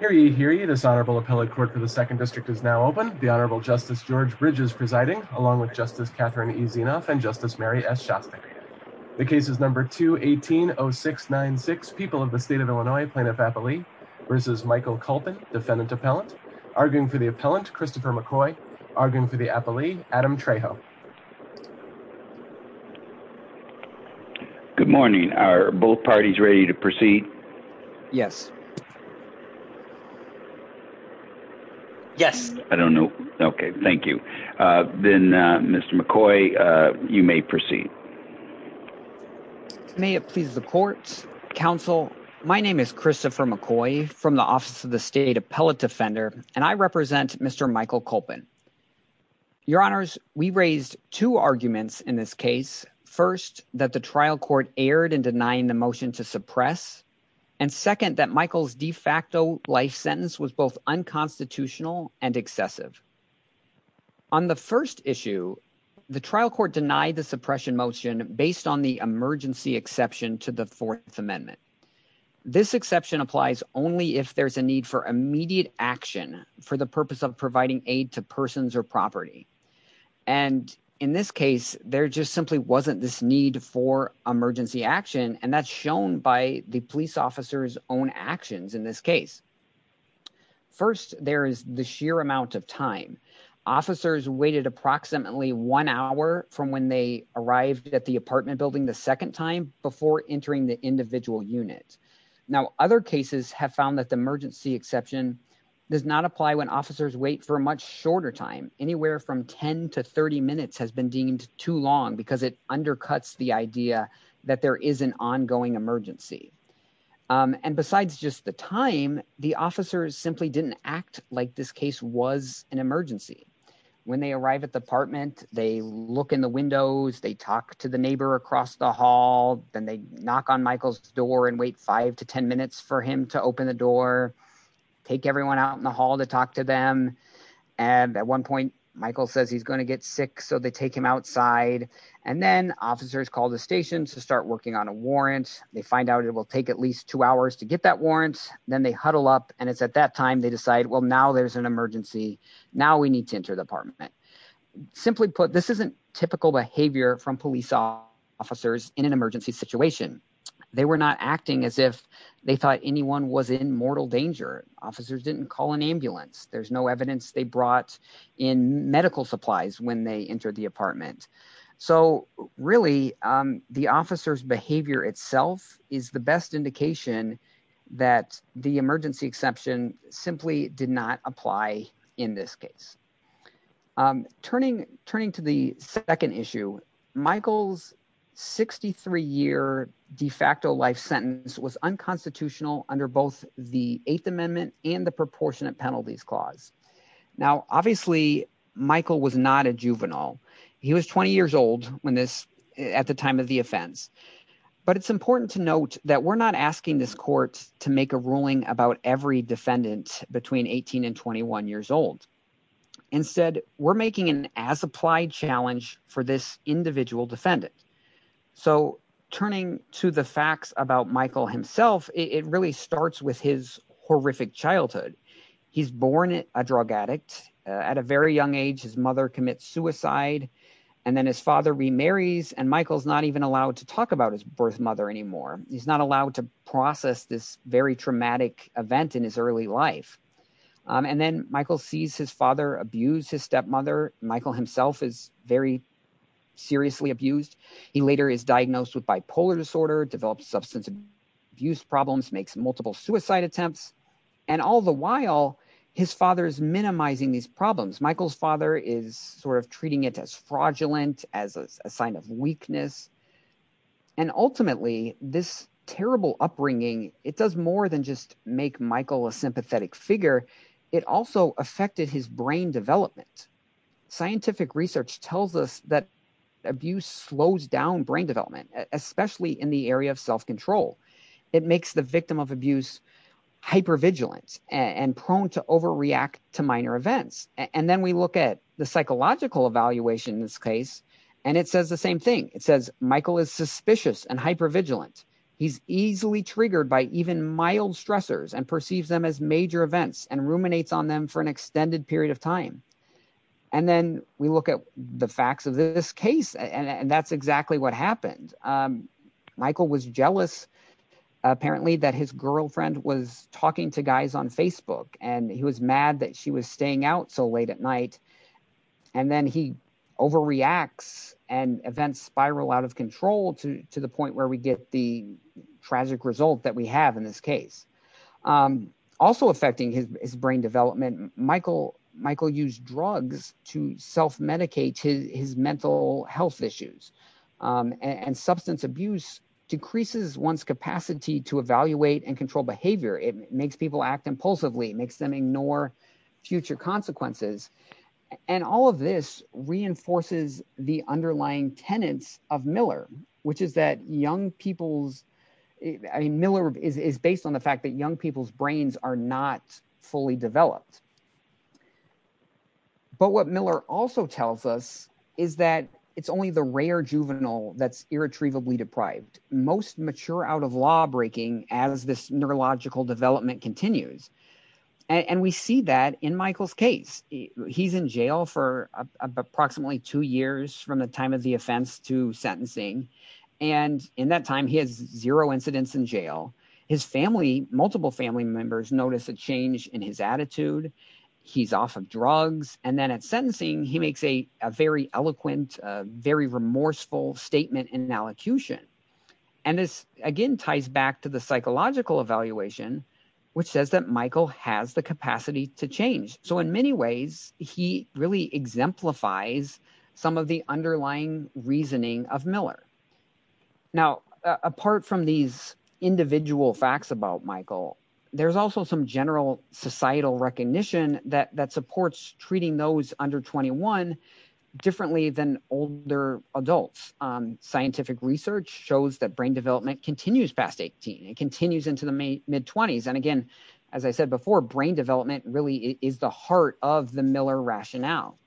Hear ye, hear ye, this Honorable Appellate Court for the 2nd District is now open. The Honorable Justice George Bridges presiding, along with Justice Catherine E. Zinoff and Justice Mary S. Shostak. The case is number 2180696, People of the State of Illinois, Plaintiff-Appellee versus Michael Culpin, Defendant-Appellant. Arguing for the Appellant, Christopher McCoy. Arguing for the Appellee, Adam Trejo. Good morning. Are both parties ready to proceed? Yes. Yes. I don't know. Okay. Thank you. Then, Mr. McCoy, you may proceed. May it please the court, counsel. My name is Christopher McCoy from the Office of the State Appellate Defender and I represent Mr. Michael Culpin. Your Honors, we raised two arguments in this case. First, that the trial court erred in denying the motion to suppress. And second, that Michael's de facto life sentence was both unconstitutional and excessive. On the first issue, the trial court denied the suppression motion based on the emergency exception to the Fourth Amendment. This exception applies only if there's a need for immediate action for the purpose of providing aid to persons or property. And in this case, there just simply wasn't this need for emergency action. And that's shown by the police officer's own actions in this case. First, there is the sheer amount of time. Officers waited approximately one hour from when they arrived at the apartment building the second time before entering the individual unit. Now, other cases have found that the emergency exception does not apply when officers wait for a much shorter time, anywhere from 10 to 30 minutes has been deemed too long because it undercuts the idea that there is an ongoing emergency. And besides just the time, the officers simply didn't act like this case was an emergency. When they arrive at the apartment, they look in the windows, they talk to the neighbor across the hall, then they knock on Michael's door and wait five to 10 minutes for him to open the door, take everyone out in the hall to talk to them. And at one point, Michael says he's going to get sick. So they take him outside. And then officers call the station to start working on a warrant. They find out it will take at least two hours to get that warrant. Then they huddle up. And it's at that time they decide, well, now there's an emergency. Now we need to enter the apartment. Simply put, this isn't typical behavior from police officers in an emergency situation. They were not acting as if they thought anyone was in mortal danger. Officers didn't call an ambulance. There's no evidence they brought in medical supplies when they entered the apartment. So really, the officer's behavior itself is the best indication that the emergency exception simply did not apply in this case. Turning to the second issue, Michael's 63-year de facto life sentence was unconstitutional under both the Eighth Amendment and the Proportionate Penalties Clause. Now, obviously, Michael was not a juvenile. He was 20 years old at the time of the offense. But it's important to note that we're not asking this court to make a ruling about every defendant between 18 and 21 years old. Instead, we're making an as-applied challenge for this individual defendant. So turning to the facts about Michael himself, it really starts with his horrific childhood. He's born a drug addict. At a very young age, his mother commits suicide. And then his father remarries. And Michael's not even allowed to talk about his birth mother anymore. He's not allowed to process this very traumatic event in his early life. And then Michael sees his father abuse his stepmother. Michael himself is very seriously abused. He later is diagnosed with bipolar disorder, develops substance abuse problems, makes multiple suicide attempts. And all the while, his father is minimizing these problems. Michael's father is sort of treating it as fraudulent, as a sign of weakness. And ultimately, this terrible upbringing, it does more than just make Michael a sympathetic figure. It also affected his brain development. Scientific research tells us that abuse slows down brain development, especially in the area of self-control. It makes the victim of abuse hypervigilant and prone to overreact to minor events. And then we look at the psychological evaluation in this case, and it says the same thing. It says Michael is suspicious and hypervigilant. He's easily triggered by even mild stressors and perceives them as major events and ruminates on them for an extended period of time. And then we look at the facts of this case. And that's exactly what happened. Michael was jealous, apparently, that his girlfriend was talking to guys on Facebook. And he was mad that she was staying out so late at night. And then he overreacts and events spiral out of control to the point where we get the tragic result that we have in this case. Also affecting his brain development, Michael used drugs to self-medicate his mental health issues. And substance abuse decreases one's capacity to evaluate and control behavior. It makes people act impulsively. It makes them ignore future consequences. And all of this reinforces the underlying tenets of Miller, which is that young people's, I mean, Miller is based on the fact that young people's brains are not fully developed. But what Miller also tells us is that it's only the rare juvenile that's irretrievably deprived, most mature out of law breaking as this neurological development continues. And we see that in Michael's case. He's in jail for approximately two years from the time of the offense to sentencing. And in that time, he has zero incidents in jail. His family, multiple family members notice a change in his attitude. He's off of drugs. And then at sentencing, he makes a very eloquent, very remorseful statement in allocution. And this, again, ties back to the psychological evaluation, which says that Michael has the capacity to change. So in many ways, he really exemplifies some of the underlying reasoning of Miller. Now, apart from these individual facts about Michael, there's also some general societal recognition that supports treating those under 21 differently than older adults. Scientific research shows that brain development continues past 18. It continues into the mid-20s. And again, as I said before, brain development really is the heart of the Miller rationale.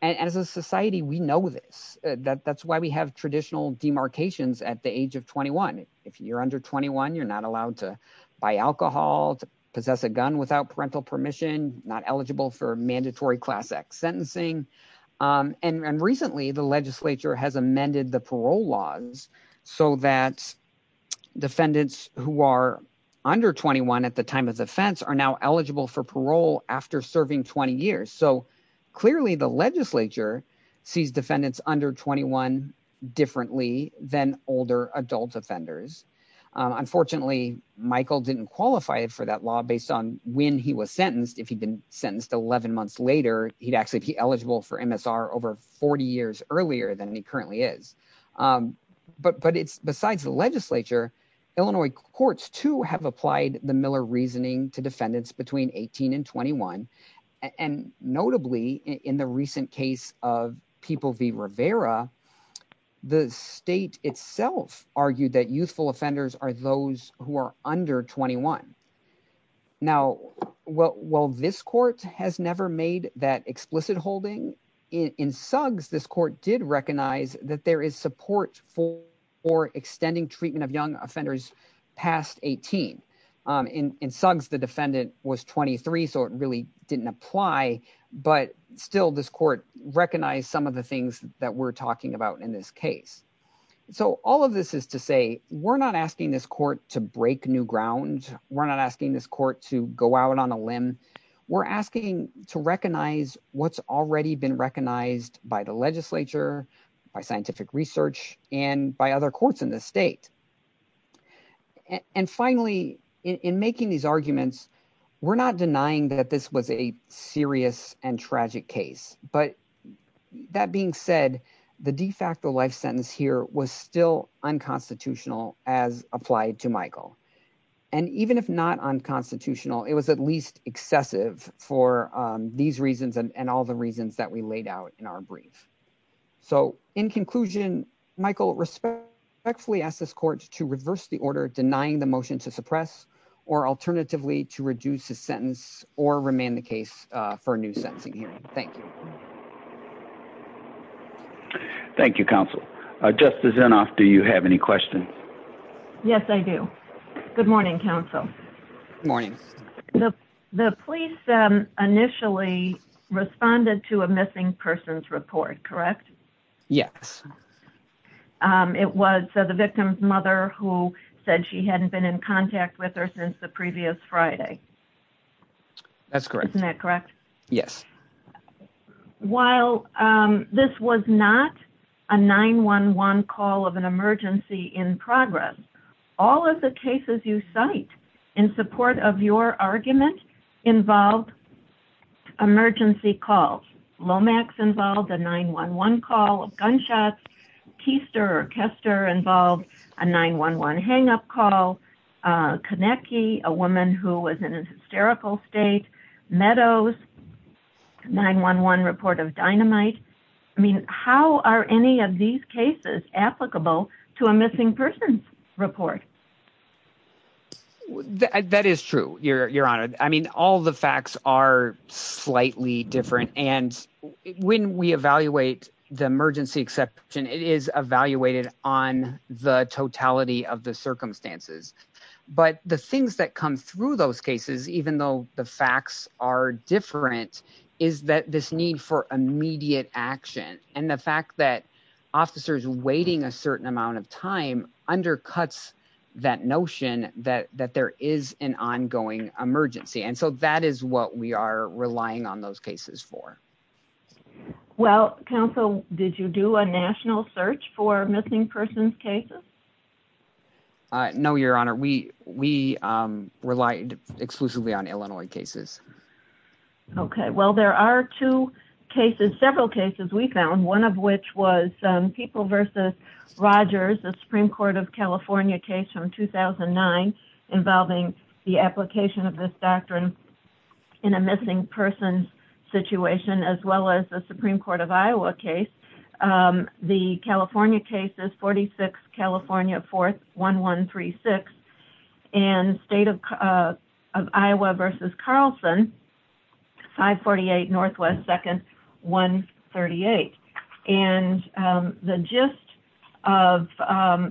And as a society, we know this. That's why we have traditional demarcations at the age of 21. If you're under 21, you're not allowed to buy alcohol, to possess a gun without parental permission, not eligible for mandatory class X sentencing. And recently, the legislature has amended the parole laws so that defendants who are under 21 at the time of offense are now eligible for parole after serving 20 years. So clearly, the legislature sees defendants under 21 differently than older adult offenders. Unfortunately, Michael didn't qualify for that law based on when he was sentenced. If he'd been sentenced 11 months later, he'd actually be eligible for MSR over 40 years earlier than he currently is. But besides the legislature, Illinois courts, too, have applied the Miller reasoning to defendants between 18 and 21. And notably, in the recent case of People v. Rivera, the state itself argued that youthful offenders are those who are under 21. Now, while this court has never made that explicit holding, in Suggs, this court did support for extending treatment of young offenders past 18. In Suggs, the defendant was 23, so it really didn't apply. But still, this court recognized some of the things that we're talking about in this case. So all of this is to say, we're not asking this court to break new ground. We're not asking this court to go out on a limb. We're asking to recognize what's already been recognized by the legislature, by research, and by other courts in the state. And finally, in making these arguments, we're not denying that this was a serious and tragic case. But that being said, the de facto life sentence here was still unconstitutional as applied to Michael. And even if not unconstitutional, it was at least excessive for these reasons and all the reasons that we laid out in our brief. So in conclusion, Michael, respectfully ask this court to reverse the order denying the motion to suppress or alternatively to reduce the sentence or remand the case for a new sentencing hearing. Thank you. Thank you, counsel. Justice Inhofe, do you have any questions? Yes, I do. Good morning, counsel. Good morning. The police initially responded to a missing person's report, correct? Yes. It was the victim's mother who said she hadn't been in contact with her since the previous Friday. That's correct. Isn't that correct? Yes. While this was not a 911 call of an emergency in progress, all of the cases you cite in support of your argument involved emergency calls. Lomax involved a 911 call of gunshots. Keister or Kester involved a 911 hang up call. Konecki, a woman who was in a hysterical state. Meadows, 911 report of dynamite. I mean, how are any of these cases applicable to a missing person's report? Well, that is true, Your Honor. I mean, all the facts are slightly different. And when we evaluate the emergency exception, it is evaluated on the totality of the circumstances. But the things that come through those cases, even though the facts are different, is that this need for immediate action and the fact that officers waiting a certain amount of time undercuts that notion that there is an ongoing emergency. And so that is what we are relying on those cases for. Well, counsel, did you do a national search for missing persons cases? No, Your Honor. We relied exclusively on Illinois cases. OK, well, there are two cases, several cases we found, one of which was People v. Rogers, the Supreme Court of California case from 2009 involving the application of this doctrine in a missing person's situation, as well as the Supreme Court of Iowa case. The California case is 46, California, 4th, 1136. And State of Iowa v. Carlson, 548, Northwest, 2nd, 138. And the gist of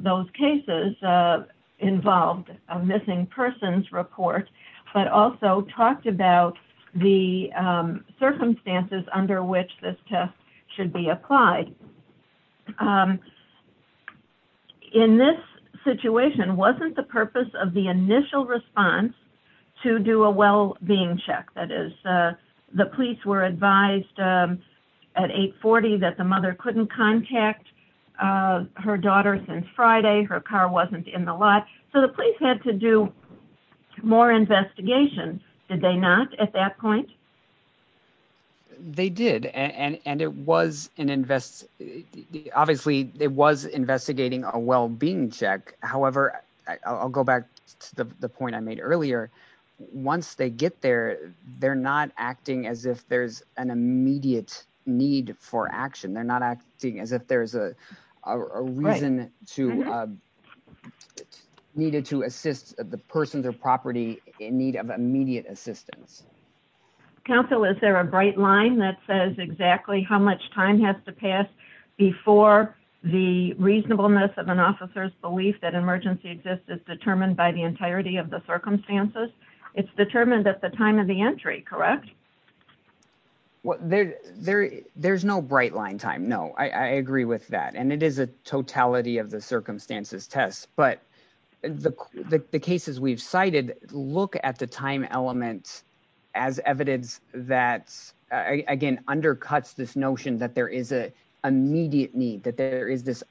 those cases involved a missing person's report, but also talked about the circumstances under which this test should be applied. In this situation, wasn't the purpose of the initial response to do a well-being check? That is, the police were advised at 840 that the mother couldn't contact her daughter since Friday. Her car wasn't in the lot. So the police had to do more investigation. Did they not at that point? They did. Obviously, it was investigating a well-being check. However, I'll go back to the point I made earlier. Once they get there, they're not acting as if there's an immediate need for action. They're not acting as if there's a reason to needed to assist the person or property in need of immediate assistance. Counsel, is there a bright line that says exactly how much time has to pass before the reasonableness of an officer's belief that emergency exists is determined by the entirety of the circumstances? It's determined at the time of the entry, correct? Well, there's no bright line time. No, I agree with that. And it is a totality of the circumstances test. But the cases we've cited look at the time element as evidence that, again, undercuts this notion that there is an immediate need, that there is this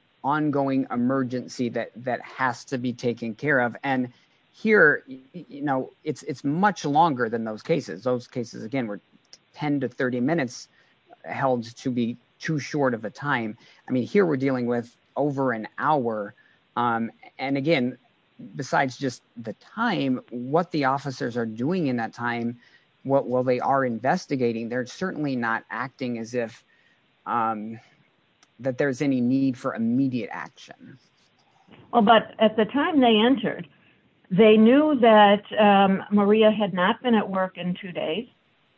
taking care of. And here, it's much longer than those cases. Those cases, again, were 10 to 30 minutes held to be too short of a time. I mean, here we're dealing with over an hour. And again, besides just the time, what the officers are doing in that time, while they are investigating, they're certainly not acting as if that there's any need for immediate action. Well, but at the time they entered, they knew that Maria had not been at work in two days,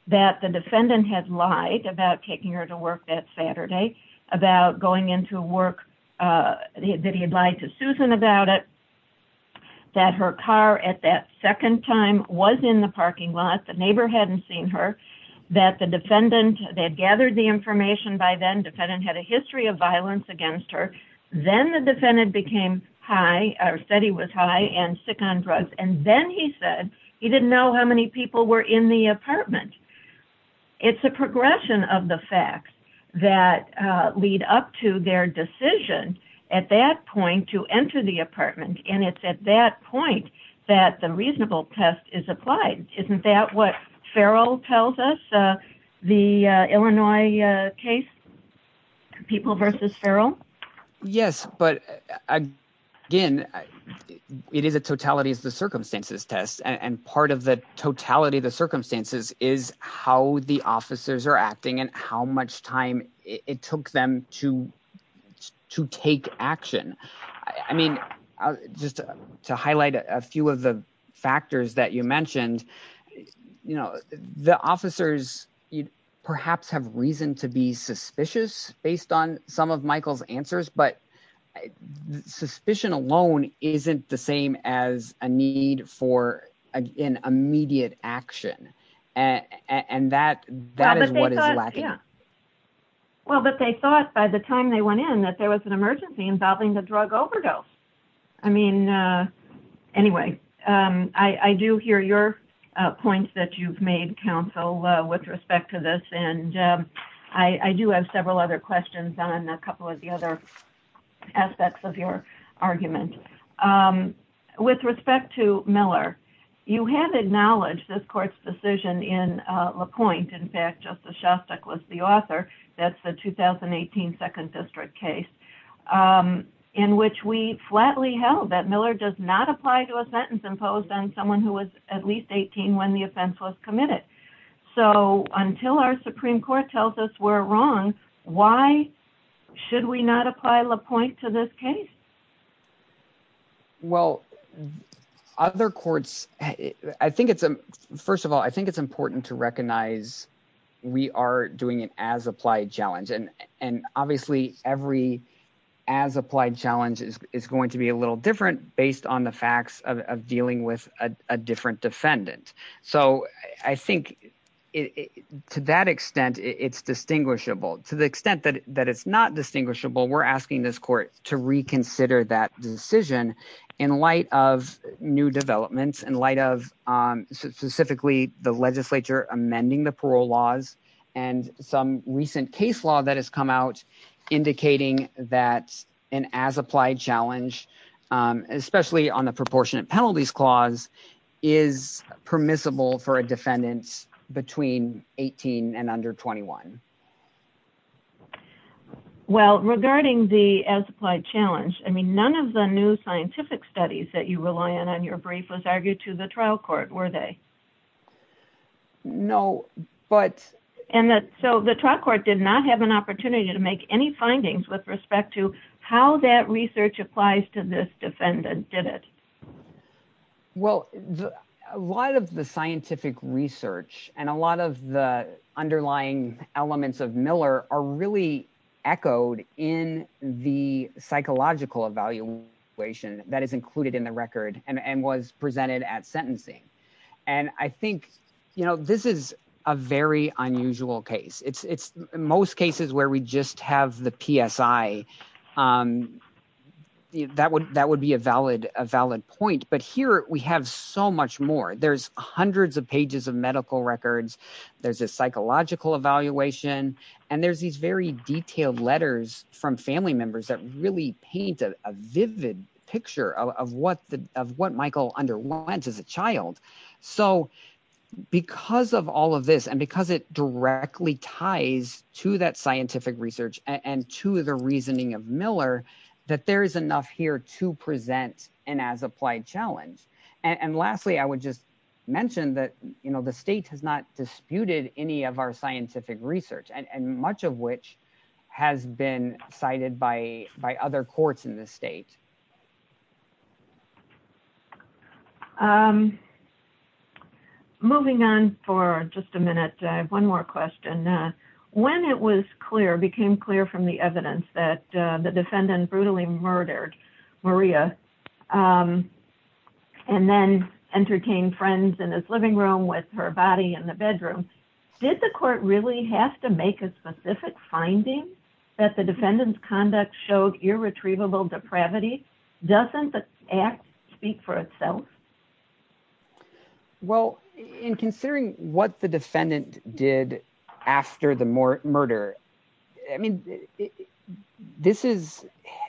that the defendant had lied about taking her to work that Saturday, about going into work, that he had lied to Susan about it, that her car at that second time was in the parking lot, the neighbor hadn't seen her, that the defendant had gathered the information by then, the defendant had a history of violence against her. Then the defendant became high, or said he was high and sick on drugs. And then he said he didn't know how many people were in the apartment. It's a progression of the facts that lead up to their decision at that point to enter the apartment. And it's at that point that the reasonable test is applied. Isn't that what Farrell tells us, the Illinois case, People v. Farrell? Yes, but again, it is a totality of the circumstances test. And part of the totality of the circumstances is how the officers are acting and how much time it took them to take action. I mean, just to highlight a few of the factors that you mentioned, the officers perhaps have reason to be suspicious based on some of Michael's answers. But suspicion alone isn't the same as a need for an immediate action. And that is what is lacking. Well, but they thought by the time they went in, that there was an emergency involving the drug overdose. I mean, anyway, I do hear your points that you've made, counsel, with respect to this. And I do have several other questions on a couple of the other aspects of your argument. With respect to Miller, you have acknowledged this court's decision in LaPointe, in fact, Justice Shostak was the author, that's the 2018 Second District case, in which we flatly held that Miller does not apply to a sentence imposed on someone who was at least 18 when the offense was committed. So until our Supreme Court tells us we're wrong, why should we not apply LaPointe to this case? Well, other courts, I think it's, first of all, I think it's important to recognize we are doing an as-applied challenge. And obviously, every as-applied challenge is going to be a little different based on the facts of dealing with a different defendant. So I think to that extent, it's distinguishable. To the extent that it's not distinguishable, we're asking this court to reconsider that decision in light of new developments, in light of specifically the legislature amending the parole laws and some recent case law that has come out indicating that an as-applied challenge, especially on the proportionate penalties clause, is permissible for a defendant between 18 and under 21. Well, regarding the as-applied challenge, I mean, none of the new scientific studies that you rely on on your brief was argued to the trial court, were they? No, but... And so the trial court did not have an opportunity to make any findings with respect to how that research applies to this defendant, did it? Well, a lot of the scientific research and a lot of the underlying elements of Miller are really echoed in the psychological evaluation that is included in the record and was presented at sentencing. And I think, you know, this is a very unusual case. It's most cases where we just have the PSI. That would be a valid point. But here we have so much more. There's hundreds of pages of medical records. There's a psychological evaluation. And there's these very detailed letters from family members that really paint a vivid picture of what Michael underwent as a child. So because of all of this, and because it directly ties to that scientific research and to the reasoning of Miller, that there is enough here to present an as-applied challenge. And lastly, I would just mention that, you know, the state has not disputed any of our scientific research, and much of which has been cited by other courts in the state. Moving on for just a minute, I have one more question. When it was clear, became clear from the evidence that the defendant brutally murdered Maria and then entertained friends in his living room with her body in the bedroom, did the court really have to make a specific finding that the defendant's conduct showed irretrievable depravity? Doesn't the act speak for itself? Well, in considering what the defendant did after the murder, I mean, this is,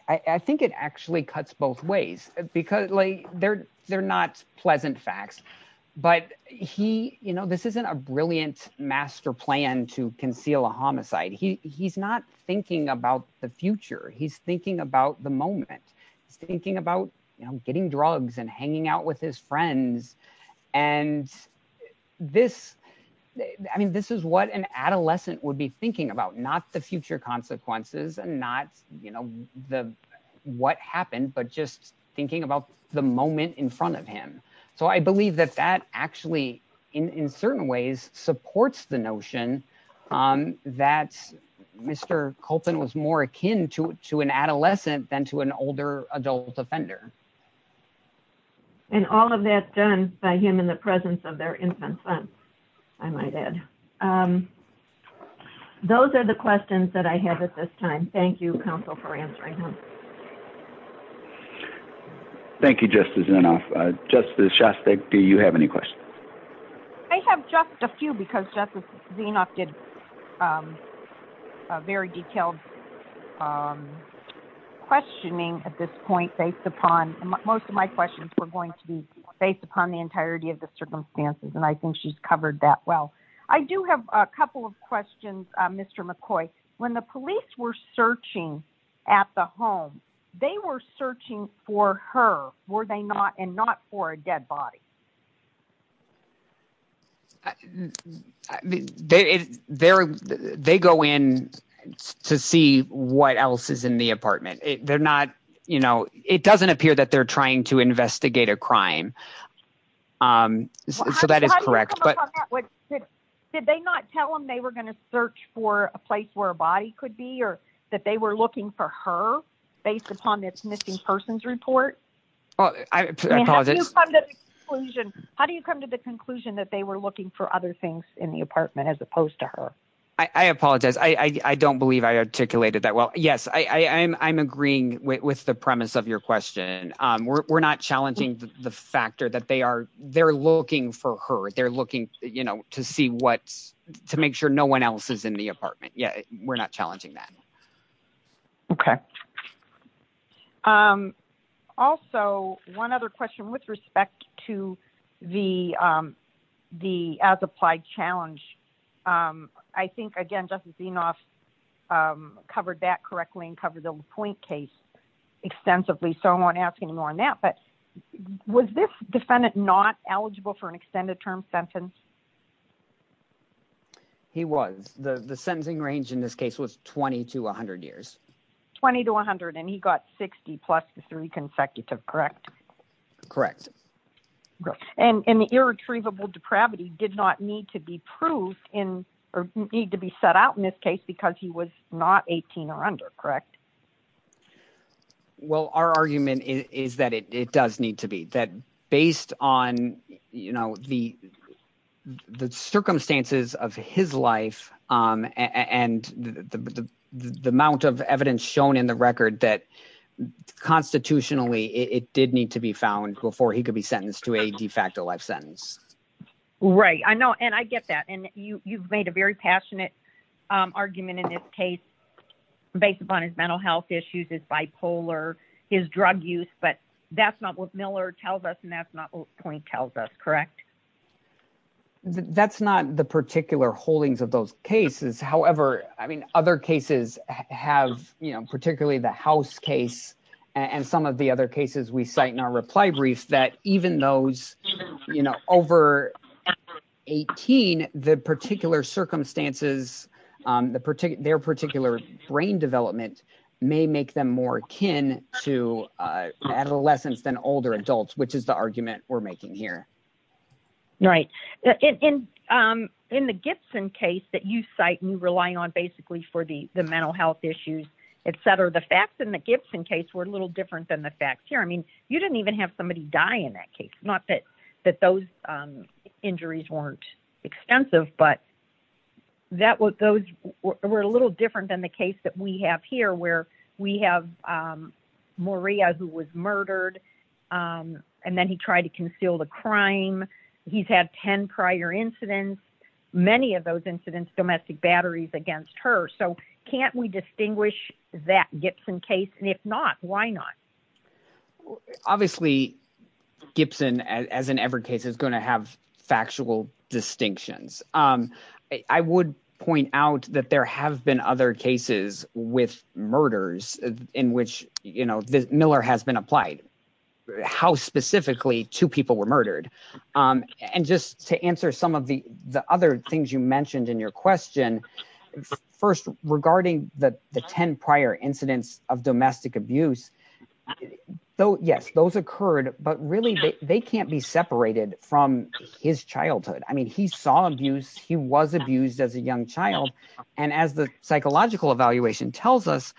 I think it actually cuts both ways because, like, they're not pleasant facts. But he, you know, this isn't a brilliant master plan to conceal a homicide. He's not thinking about the future. He's thinking about the moment. He's thinking about, you know, getting drugs and hanging out with his friends. And this, I mean, this is what an adolescent would be thinking about, not the future consequences and not, you know, what happened, but just thinking about the moment in front of him. So I believe that that actually, in certain ways, supports the notion that Mr. Copeland was more akin to an adolescent than to an older adult offender. And all of that done by him in the presence of their infant son, I might add. Those are the questions that I have at this time. Thank you, counsel, for answering them. Thank you, Justice Zinoff. Justice Shostak, do you have any questions? I have just a few because Justice Zinoff did a very detailed questioning at this point based upon most of my questions were going to be based upon the entirety of the circumstances. And I think she's covered that well. I do have a couple of questions, Mr. McCoy. When the police were searching at the home, they were searching for her, were they not? And not for a dead body. I mean, they go in to see what else is in the apartment. They're not, you know, it doesn't appear that they're trying to investigate a crime. So that is correct. Did they not tell him they were going to search for a place where a body could be or that they were looking for her based upon this missing persons report? Well, I apologize. How do you come to the conclusion that they were looking for other things in the apartment as opposed to her? I apologize. I don't believe I articulated that well. Yes, I'm agreeing with the premise of your question. We're not challenging the factor that they are. They're looking for her. They're looking, you know, to see what to make sure no one else is in the apartment. Yeah, we're not challenging that. Okay. Also, one other question with respect to the as-applied challenge. I think, again, Justice Zinoff covered that correctly and covered the LaPointe case extensively. So I won't ask any more on that. But was this defendant not eligible for an extended term sentence? He was. The sentencing range in this case was 20 to 100 years. 20 to 100, and he got 60 plus the three consecutive, correct? Correct. And the irretrievable depravity did not need to be proved in or need to be set out in this case because he was not 18 or under, correct? Well, our argument is that it does need to be. That based on, you know, the circumstances of his life and the amount of evidence shown in the record that constitutionally, it did need to be found before he could be sentenced to a de facto life sentence. Right. I know, and I get that. And you've made a very passionate argument in this case based upon his mental health issues, his bipolar, his drug use. But that's not what Miller tells us, and that's not what LaPointe tells us, correct? No, that's not the particular holdings of those cases. However, I mean, other cases have, you know, particularly the House case and some of the other cases we cite in our reply brief that even those, you know, over 18, the particular circumstances, their particular brain development may make them more akin to adolescents than older adults, which is the argument we're making here. Right. In the Gibson case that you cite and you're relying on basically for the mental health issues, et cetera, the facts in the Gibson case were a little different than the facts here. I mean, you didn't even have somebody die in that case. Not that those injuries weren't extensive, but those were a little different than the case that we have here where we have Maria who was murdered and then he tried to conceal the crime. He's had 10 prior incidents, many of those incidents, domestic batteries against her. So can't we distinguish that Gibson case? And if not, why not? Obviously, Gibson, as in every case, is going to have factual distinctions. I would point out that there have been other cases with murders in which, you know, and just to answer some of the other things you mentioned in your question, first, regarding the 10 prior incidents of domestic abuse, though, yes, those occurred, but really they can't be separated from his childhood. I mean, he saw abuse. He was abused as a young child. And as the psychological evaluation tells us,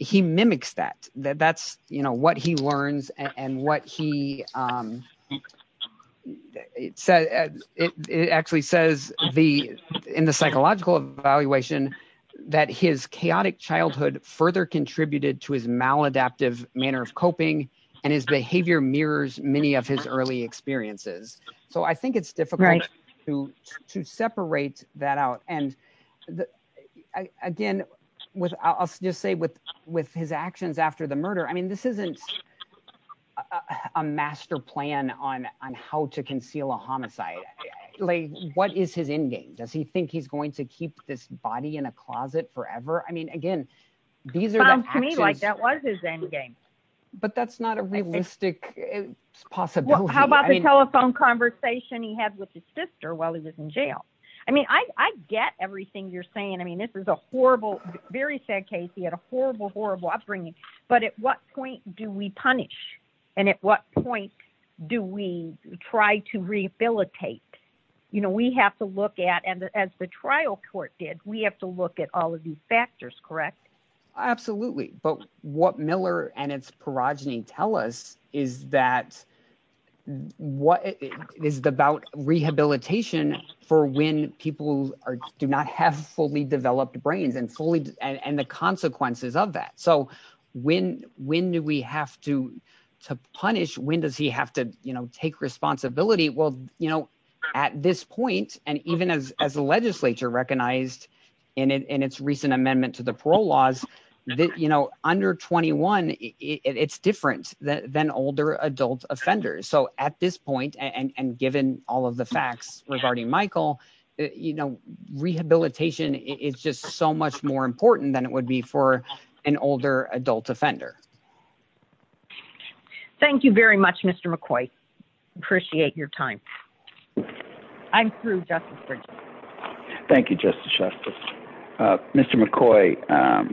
he mimics that. That's, you know, what he learns and what he, it actually says in the psychological evaluation that his chaotic childhood further contributed to his maladaptive manner of coping and his behavior mirrors many of his early experiences. So I think it's difficult to separate that out. And again, I'll just say with his actions after the murder, I mean, this isn't a master plan on how to conceal a homicide. What is his endgame? Does he think he's going to keep this body in a closet forever? I mean, again, these are the actions. Sounds to me like that was his endgame. But that's not a realistic possibility. How about the telephone conversation he had with his sister while he was in jail? I mean, I get everything you're saying. I mean, this is a horrible, very sad case. He had a horrible, horrible upbringing. But at what point do we punish? And at what point do we try to rehabilitate? You know, we have to look at, and as the trial court did, we have to look at all of these factors, correct? Absolutely. But what Miller and its perogeny tell us is that, what is about rehabilitation for when people do not have fully developed brains and fully and the consequences of that. So when do we have to punish? When does he have to take responsibility? Well, at this point, and even as the legislature recognized in its recent amendment to the parole laws, under 21, it's different than older adult offenders. So at this point, and given all of the facts regarding Michael, you know, rehabilitation is just so much more important than it would be for an older adult offender. Thank you very much, Mr. McCoy. Appreciate your time. I'm through, Justice Bridges. Thank you, Justice Shuster. Mr. McCoy,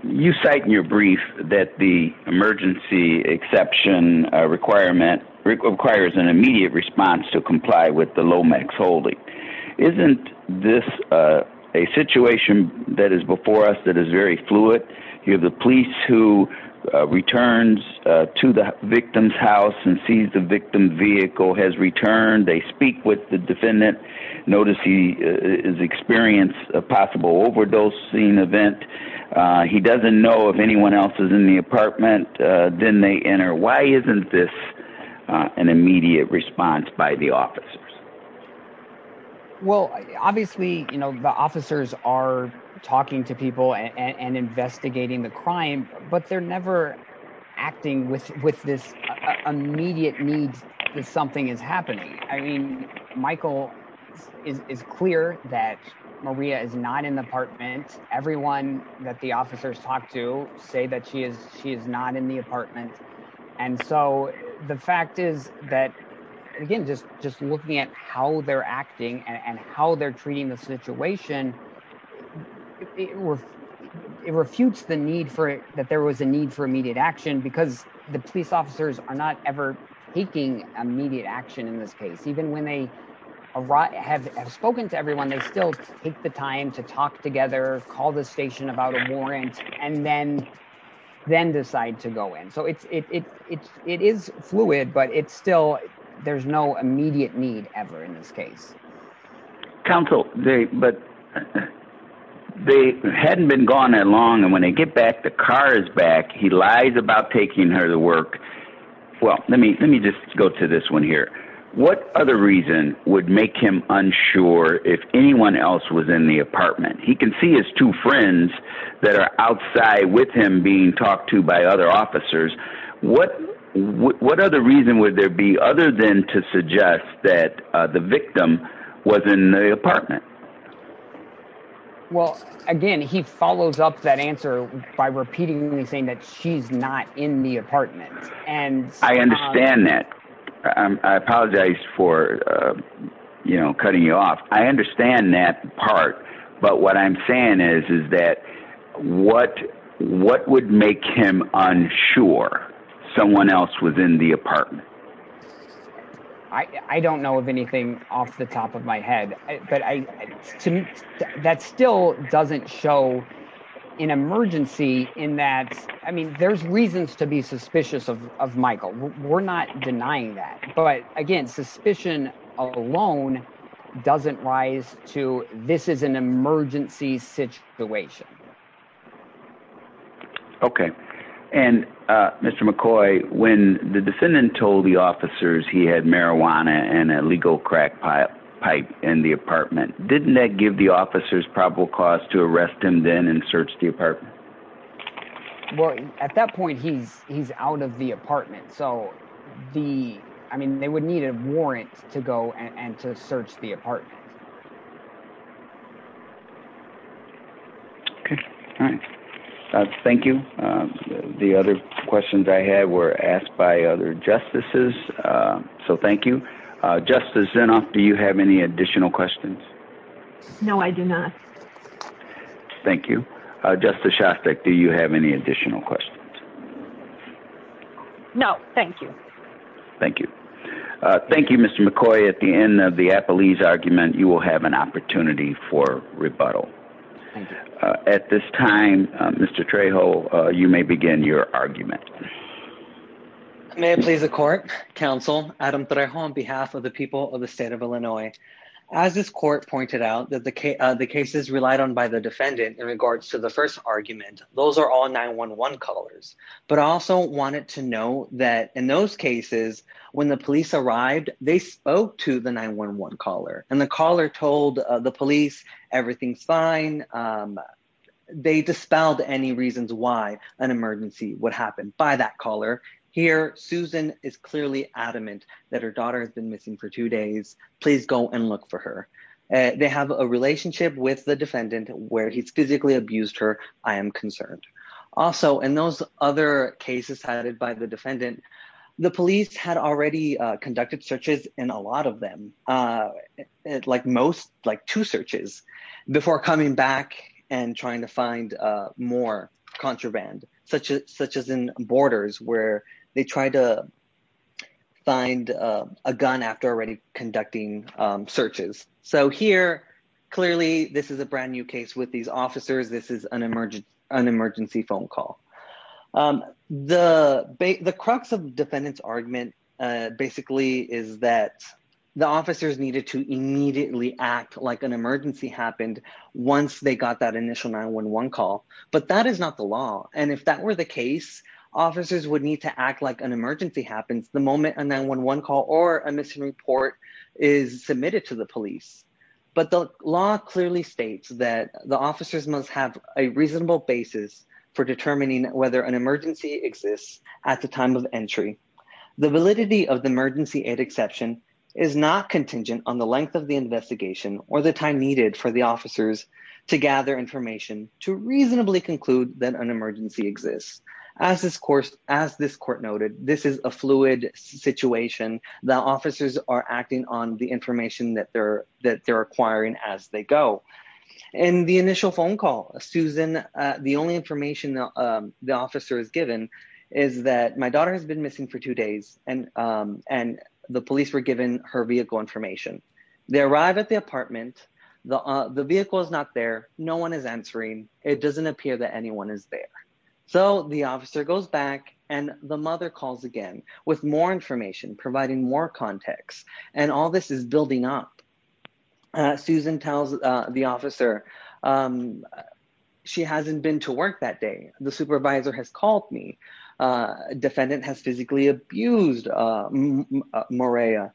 you cite in your brief that the emergency exception requirement, requires an immediate response to comply with the Lomax holding. Isn't this a situation that is before us that is very fluid? You have the police who returns to the victim's house and sees the victim's vehicle has returned. They speak with the defendant. Notice he has experienced a possible overdosing event. He doesn't know if anyone else is in the apartment. Then they enter. Why isn't this an immediate response by the officers? Well, obviously, you know, the officers are talking to people and investigating the crime, but they're never acting with this immediate need that something is happening. I mean, Michael is clear that Maria is not in the apartment. Everyone that the officers talk to say that she is not in the apartment. And so the fact is that, again, just looking at how they're acting and how they're treating the situation, it refutes the need for that there was a need for immediate action because the police officers are not ever taking immediate action in this case. Even when they have spoken to everyone, they still take the time to talk together, call the station about a warrant and then decide to go in. So it is fluid, but it's still there's no immediate need ever in this case. Counsel, but they hadn't been gone that long. And when they get back, the car is back. He lies about taking her to work. Well, let me let me just go to this one here. What other reason would make him unsure if anyone else was in the apartment? He can see his two friends that are outside with him being talked to by other officers. What what other reason would there be other than to suggest that the victim was in the apartment? Well, again, he follows up that answer by repeatedly saying that she's not in the apartment. And I understand that. I apologize for, you know, cutting you off. I understand that part. But what I'm saying is, is that what what would make him unsure someone else was in the apartment? I don't know of anything off the top of my head, but that still doesn't show an emergency in that. I mean, there's reasons to be suspicious of Michael. We're not denying that. But again, suspicion alone doesn't rise to this is an emergency situation. OK, and Mr. McCoy, when the defendant told the officers he had marijuana and a legal crack pipe in the apartment, didn't that give the officers probable cause to arrest him then and search the apartment? Well, at that point, he's he's out of the apartment. So the I mean, they would need a warrant to go and to search the apartment. OK, thank you. The other questions I had were asked by other justices. So thank you, Justice Zinoff. Do you have any additional questions? No, I do not. Thank you, Justice Shostak. Do you have any additional questions? No, thank you. Thank you. Thank you, Mr. McCoy. At the end of the Appalese argument, you will have an opportunity for rebuttal. At this time, Mr. Trejo, you may begin your argument. May it please the court, counsel, Adam Trejo, on behalf of the people of the state of Illinois. As this court pointed out that the cases relied on by the defendant in regards to the first 911 callers, but also wanted to know that in those cases when the police arrived, they spoke to the 911 caller and the caller told the police everything's fine. They dispelled any reasons why an emergency would happen by that caller. Here, Susan is clearly adamant that her daughter has been missing for two days. Please go and look for her. They have a relationship with the defendant where he's physically abused her. I am concerned. Also, in those other cases headed by the defendant, the police had already conducted searches in a lot of them, like two searches, before coming back and trying to find more contraband, such as in borders where they tried to find a gun after already conducting searches. So here, clearly, this is a brand new case with these officers. This is an emergency phone call. The crux of defendant's argument, basically, is that the officers needed to immediately act like an emergency happened once they got that initial 911 call. But that is not the law. And if that were the case, officers would need to act like an emergency happens the moment a 911 call or a missing report is submitted to the police. But the law clearly states that the officers must have a reasonable basis for determining whether an emergency exists at the time of entry. The validity of the emergency aid exception is not contingent on the length of the investigation or the time needed for the officers to gather information to reasonably conclude that an emergency exists. As this court noted, this is a fluid situation. The officers are acting on the information that they're acquiring as they go. In the initial phone call, Susan, the only information the officer is given is that, my daughter has been missing for two days, and the police were given her vehicle information. They arrive at the apartment. The vehicle is not there. No one is answering. It doesn't appear that anyone is there. So the officer goes back and the mother calls again with more information, providing more context. And all this is building up. Susan tells the officer, she hasn't been to work that day. The supervisor has called me. Defendant has physically abused Maria.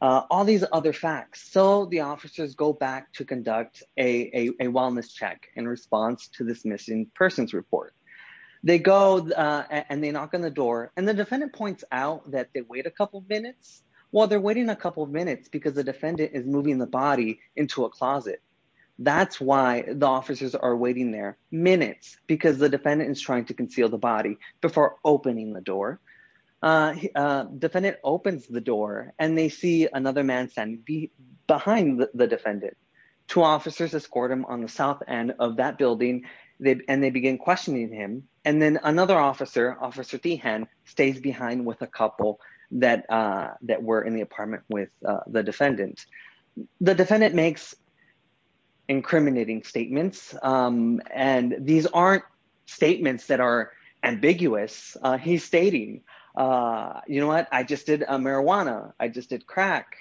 All these other facts. So the officers go back to conduct a wellness check in response to this missing persons report. They go and they knock on the door and the defendant points out that they wait a couple of minutes. Well, they're waiting a couple of minutes because the defendant is moving the body into a closet. That's why the officers are waiting there, minutes, because the defendant is trying to conceal the body before opening the door. Defendant opens the door and they see another man standing behind the defendant. Two officers escort him on the south end of that building, and they begin questioning him. And then another officer, Officer Teehan, stays behind with a couple that were in the apartment with the defendant. The defendant makes incriminating statements. And these aren't statements that are ambiguous. He's stating, you know what? I just did marijuana. I just did crack.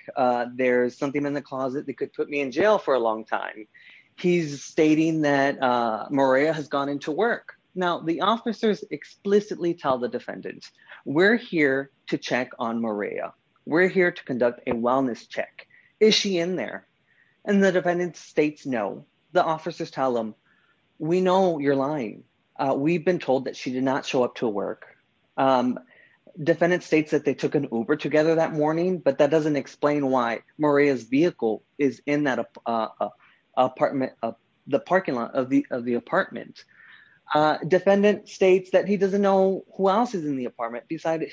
There's something in the closet that could put me in jail for a long time. He's stating that Maria has gone into work. Now, the officers explicitly tell the defendant, we're here to check on Maria. We're here to conduct a wellness check. Is she in there? And the defendant states no. The officers tell them, we know you're lying. We've been told that she did not show up to work. Defendant states that they took an Uber together that morning, but that doesn't explain why Maria's vehicle is in the parking lot of the apartment. Defendant states that he doesn't know who else is in the apartment besides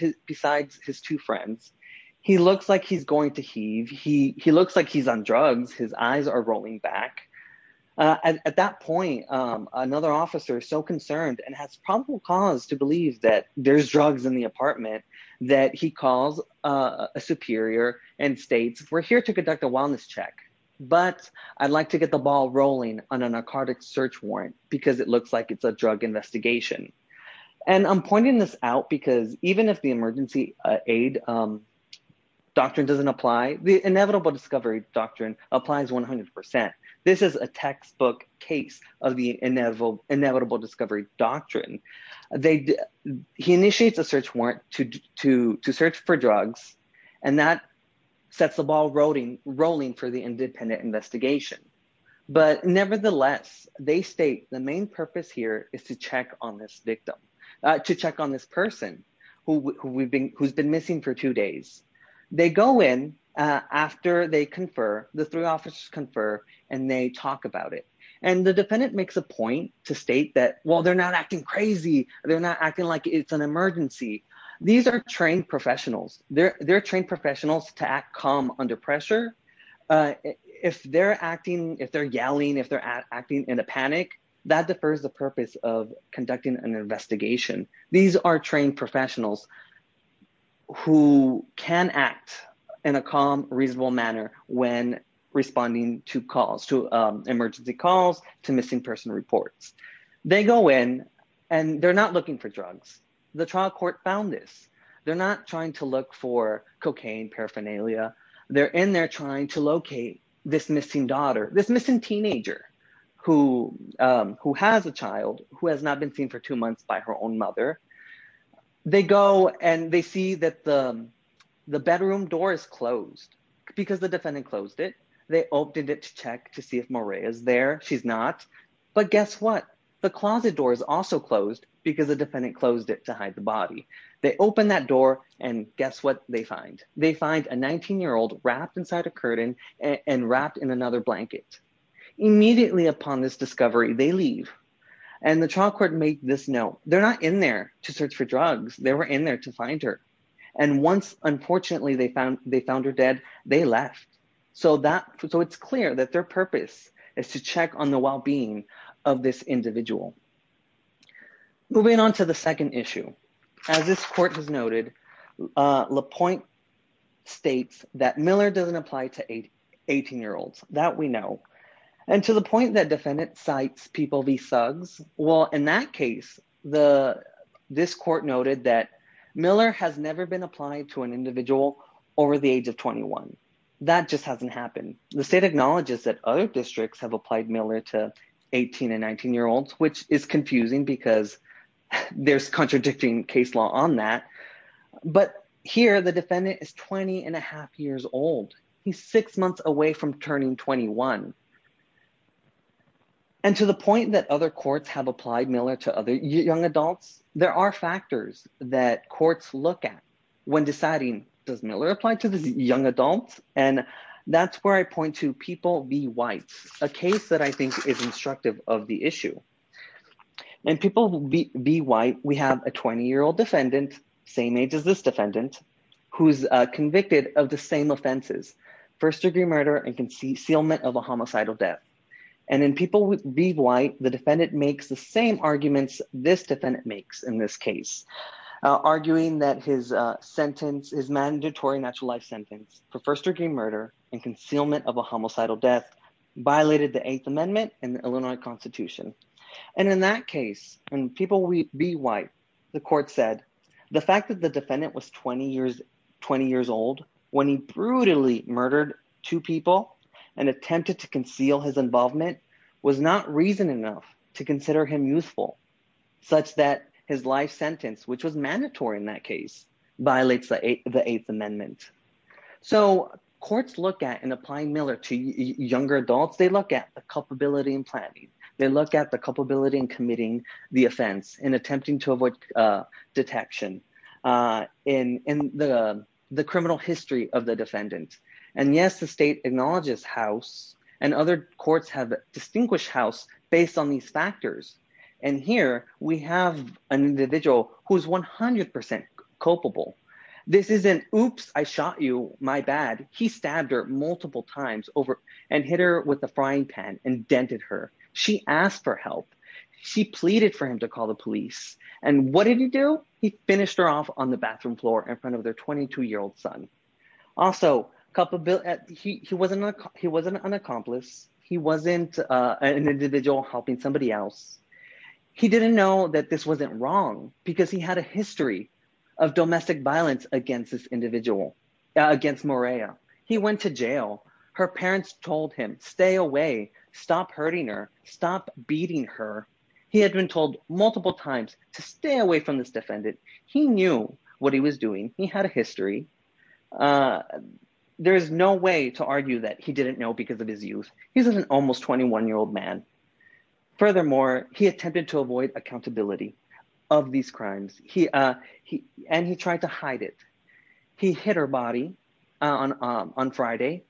his two friends. He looks like he's going to heave. He looks like he's on drugs. His eyes are rolling back. And at that point, another officer is so concerned and has probable cause to believe that there's drugs in the apartment that he calls a superior and states, we're here to conduct a wellness check, but I'd like to get the ball rolling on a narcotic search warrant because it looks like it's a drug investigation. And I'm pointing this out because even if the emergency aid doctrine doesn't apply, the inevitable discovery doctrine applies 100%. This is a textbook case of the inevitable discovery doctrine. He initiates a search warrant to search for drugs, and that sets the ball rolling for the independent investigation. But nevertheless, they state the main purpose here is to check on this victim, to check on this person who's been missing for two days. They go in after they confer, the three officers confer, and they talk about it. And the defendant makes a point to state that, well, they're not acting crazy. They're not acting like it's an emergency. These are trained professionals. They're trained professionals to act calm under pressure. If they're acting, if they're yelling, if they're acting in a panic, that defers the purpose of conducting an investigation. These are trained professionals who can act in a calm, reasonable manner when responding to calls, to emergency calls, to missing person reports. They go in, and they're not looking for drugs. The trial court found this. They're not trying to look for cocaine, paraphernalia. They're in there trying to locate this missing daughter, this missing teenager who has a child who has not been seen for two months by her own mother. They go, and they see that the bedroom door is closed because the defendant closed it. They opened it to check to see if Maria is there. She's not. But guess what? The closet door is also closed because the defendant closed it to hide the body. They open that door, and guess what they find? They find a 19-year-old wrapped inside a curtain and wrapped in another blanket. Immediately upon this discovery, they leave. And the trial court made this note. They're not in there to search for drugs. They were in there to find her. And once, unfortunately, they found her dead, they left. So it's clear that their purpose is to check on the well-being of this individual. Moving on to the second issue. As this court has noted, LaPointe states that Miller doesn't apply to 18-year-olds. That we know. And to the point that defendant cites people be thugs, well, in that case, this court noted that Miller has never been applied to an individual over the age of 21. That just hasn't happened. The state acknowledges that other districts have applied Miller to 18 and 19-year-olds, which is confusing because there's contradicting case law on that. But here, the defendant is 20 and a half years old. He's six months away from turning 21. And to the point that other courts have applied Miller to other young adults, there are factors that courts look at when deciding, does Miller apply to the young adults? And that's where I point to People v. White, a case that I think is instructive of the issue. In People v. White, we have a 20-year-old defendant, same age as this defendant, who's convicted of the same offenses, first-degree murder and concealment of a homicidal death. And in People v. White, the defendant makes the same arguments this defendant makes in this case, arguing that his mandatory natural life sentence for first-degree murder and concealment of a homicidal death violated the Eighth Amendment and the Illinois Constitution. And in that case, in People v. White, the court said, the fact that the defendant was 20 years old when he brutally murdered two people and attempted to conceal his involvement was not reason enough to consider him youthful, such that his life sentence, which was mandatory in that case, violates the Eighth Amendment. So courts look at, in applying Miller to younger adults, they look at the culpability in planning. They look at the culpability in committing the offense, in attempting to avoid detection, in the criminal history of the defendant. And yes, the state acknowledges House, and other courts have distinguished House, based on these factors. And here, we have an individual who's 100% culpable. This isn't, oops, I shot you, my bad. He stabbed her multiple times over and hit her with a frying pan and dented her. She asked for help. She pleaded for him to call the police. And what did he do? He finished her off on the bathroom floor in front of their 22-year-old son. Also, he wasn't an accomplice. He wasn't an individual helping somebody else. He didn't know that this wasn't wrong, because he had a history of domestic violence against this individual, against Morea. He went to jail. Her parents told him, stay away. Stop hurting her. Stop beating her. He had been told multiple times to stay away from this defendant. He knew what he was doing. He had a history. There is no way to argue that he didn't know because of his youth. He's an almost 21-year-old man. Furthermore, he attempted to avoid accountability of these crimes. And he tried to hide it. He hit her body on Friday.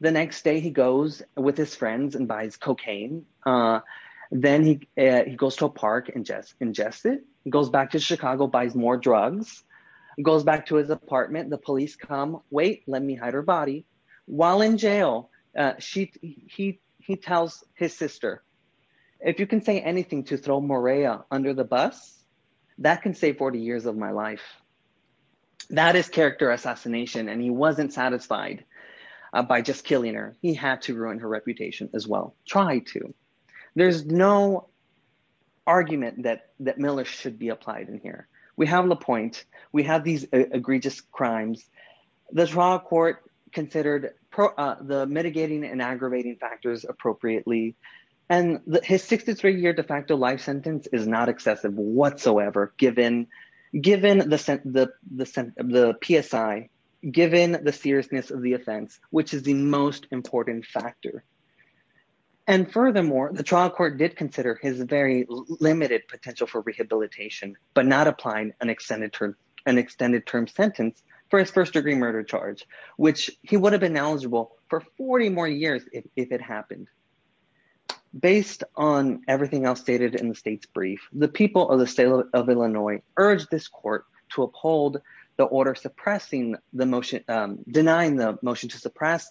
The next day, he goes with his friends and buys cocaine. Then he goes to a park and ingests it. He goes back to Chicago, buys more drugs. He goes back to his apartment. The police come, wait, let me hide her body. While in jail, he tells his sister, if you can say anything to throw Morea under the bus, that can save 40 years of my life. That is character assassination. And he wasn't satisfied by just killing her. He had to ruin her reputation as well. Try to. There's no argument that Miller should be applied in here. We have LaPointe. We have these egregious crimes. The trial court considered the mitigating and aggravating factors appropriately. And his 63-year de facto life sentence is not excessive whatsoever, given the PSI, given the seriousness of the offense, which is the most important factor. And furthermore, the trial court did consider his very limited potential for rehabilitation, but not applying an extended term sentence for his first-degree murder charge, which he would have been eligible for 40 more years if it happened. Based on everything else stated in the state's brief, the people of the state of Illinois urged this court to uphold the order suppressing the motion, which was passed.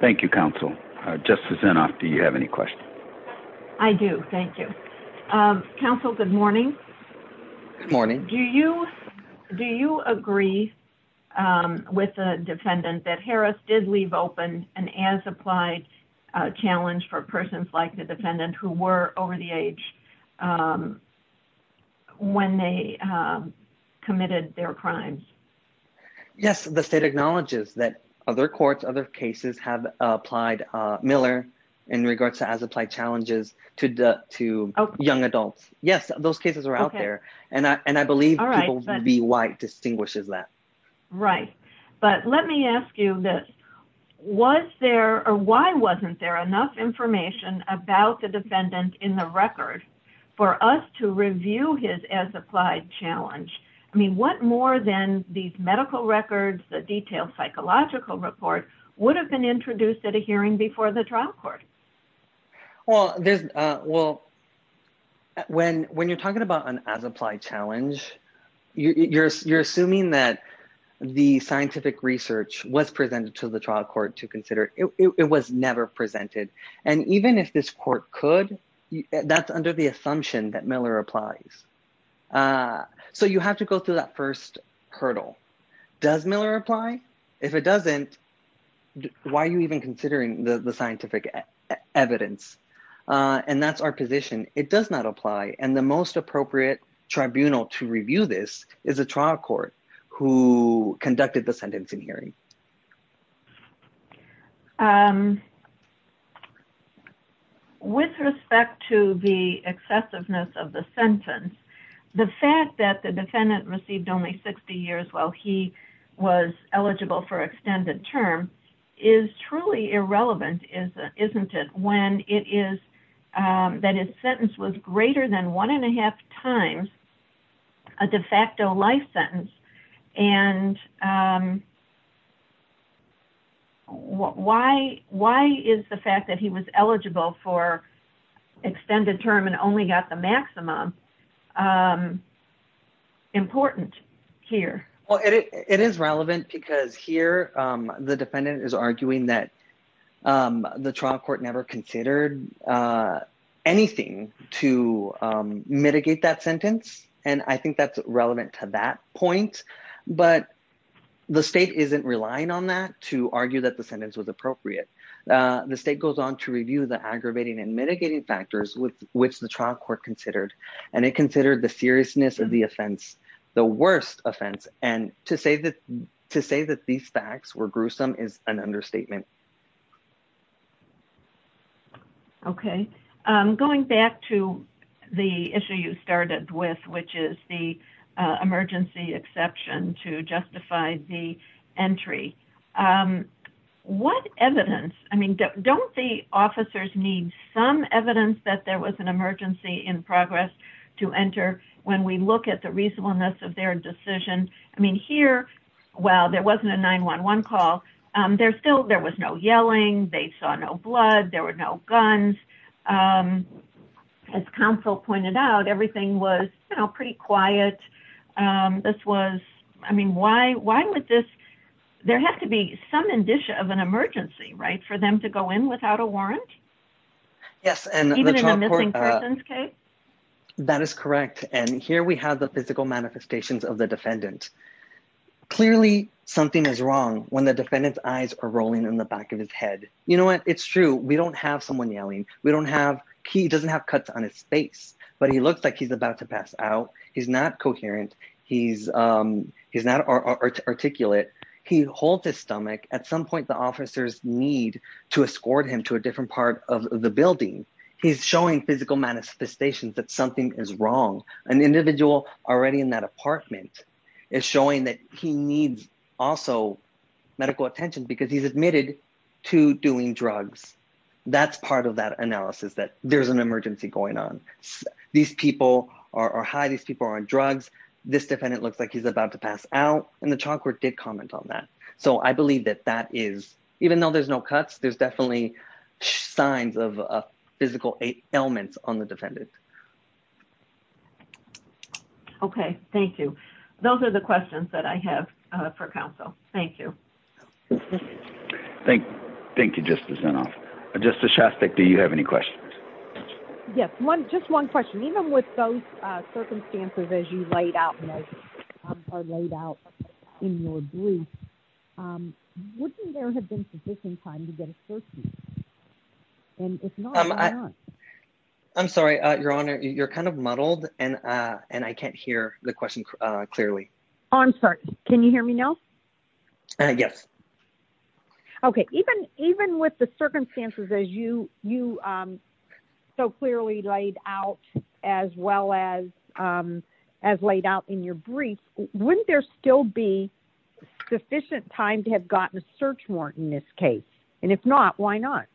Thank you, counsel. Justice Inhofe, do you have any questions? I do. Thank you. Counsel, good morning. Good morning. Do you agree with the defendant that Harris did leave open an as-applied challenge for persons like the defendant who were over the age when they committed their crimes? Yes, the state acknowledges that other courts, other cases have applied Miller in regards to as-applied challenges to young adults. Yes, those cases are out there. And I believe B. White distinguishes that. Right. But let me ask you this. Was there or why wasn't there enough information about the defendant in the record for us to review his as-applied challenge? I mean, what more than these medical records, the detailed psychological report would have been introduced at a hearing before the trial court? Well, when you're talking about an as-applied challenge, you're assuming that the scientific research was presented to the trial court to consider. It was never presented. And even if this court could, that's under the assumption that Miller applies. So you have to go through that first hurdle. Does Miller apply? If it doesn't, why are you even considering the scientific evidence? And that's our position. It does not apply. And the most appropriate tribunal to review this is a trial court who conducted the sentence in hearing. With respect to the excessiveness of the sentence, the fact that the defendant received only 60 years while he was eligible for extended term is truly irrelevant, isn't it? When it is that his sentence was greater than one and a half times a de facto life sentence. And why is the fact that he was eligible for extended term and only got the maximum important here? Well, it is relevant because here the defendant is arguing that the trial court never considered anything to mitigate that sentence. And I think that's relevant to that point. But the state isn't relying on that to argue that the sentence was appropriate. The state goes on to review the aggravating and mitigating factors which the trial court considered. And it considered the seriousness of the offense the worst offense. And to say that these facts were gruesome is an understatement. Okay. Going back to the issue you started with, which is the emergency exception to justify the entry. What evidence, I mean, don't the officers need some evidence that there was an emergency in progress to enter when we look at the reasonableness of their decision? I mean, here, while there wasn't a 911 call, there was no yelling, they saw no blood, there were no guns. As counsel pointed out, everything was pretty quiet. This was, I mean, why would this, there has to be some indicia of an emergency, right, for them to go in without a warrant? Yes. Even in a missing persons case? That is correct. And here we have the physical manifestations of the defendant. Clearly, something is wrong when the defendant's eyes are rolling in the back of his head. You know what, it's true. We don't have someone yelling. We don't have, he doesn't have cuts on his face. But he looks like he's about to pass out. He's not coherent. He's not articulate. He holds his stomach. At some point, the officers need to escort him to a different part of the building. He's showing physical manifestations that something is wrong. An individual already in that apartment is showing that he needs also medical attention because he's admitted to doing drugs. That's part of that analysis that there's an emergency going on. These people are high. These people are on drugs. This defendant looks like he's about to pass out. And the child court did comment on that. So I believe that that is, even though there's no cuts, there's definitely signs of physical ailments on the defendant. Okay. Thank you. Those are the questions that I have for counsel. Thank you. Thank you, Justice Zinoff. Justice Shastek, do you have any questions? Yes. Just one question. Even with those circumstances as you laid out in your brief, wouldn't there have been sufficient time to get a search warrant? And if not, why not? I'm sorry, Your Honor. You're kind of muddled, and I can't hear the question clearly. Oh, I'm sorry. Can you hear me now? Yes. Okay. Even with the circumstances as you so clearly laid out as well as laid out in your brief, wouldn't there still be sufficient time to have gotten a search warrant in this case? And if not, why not?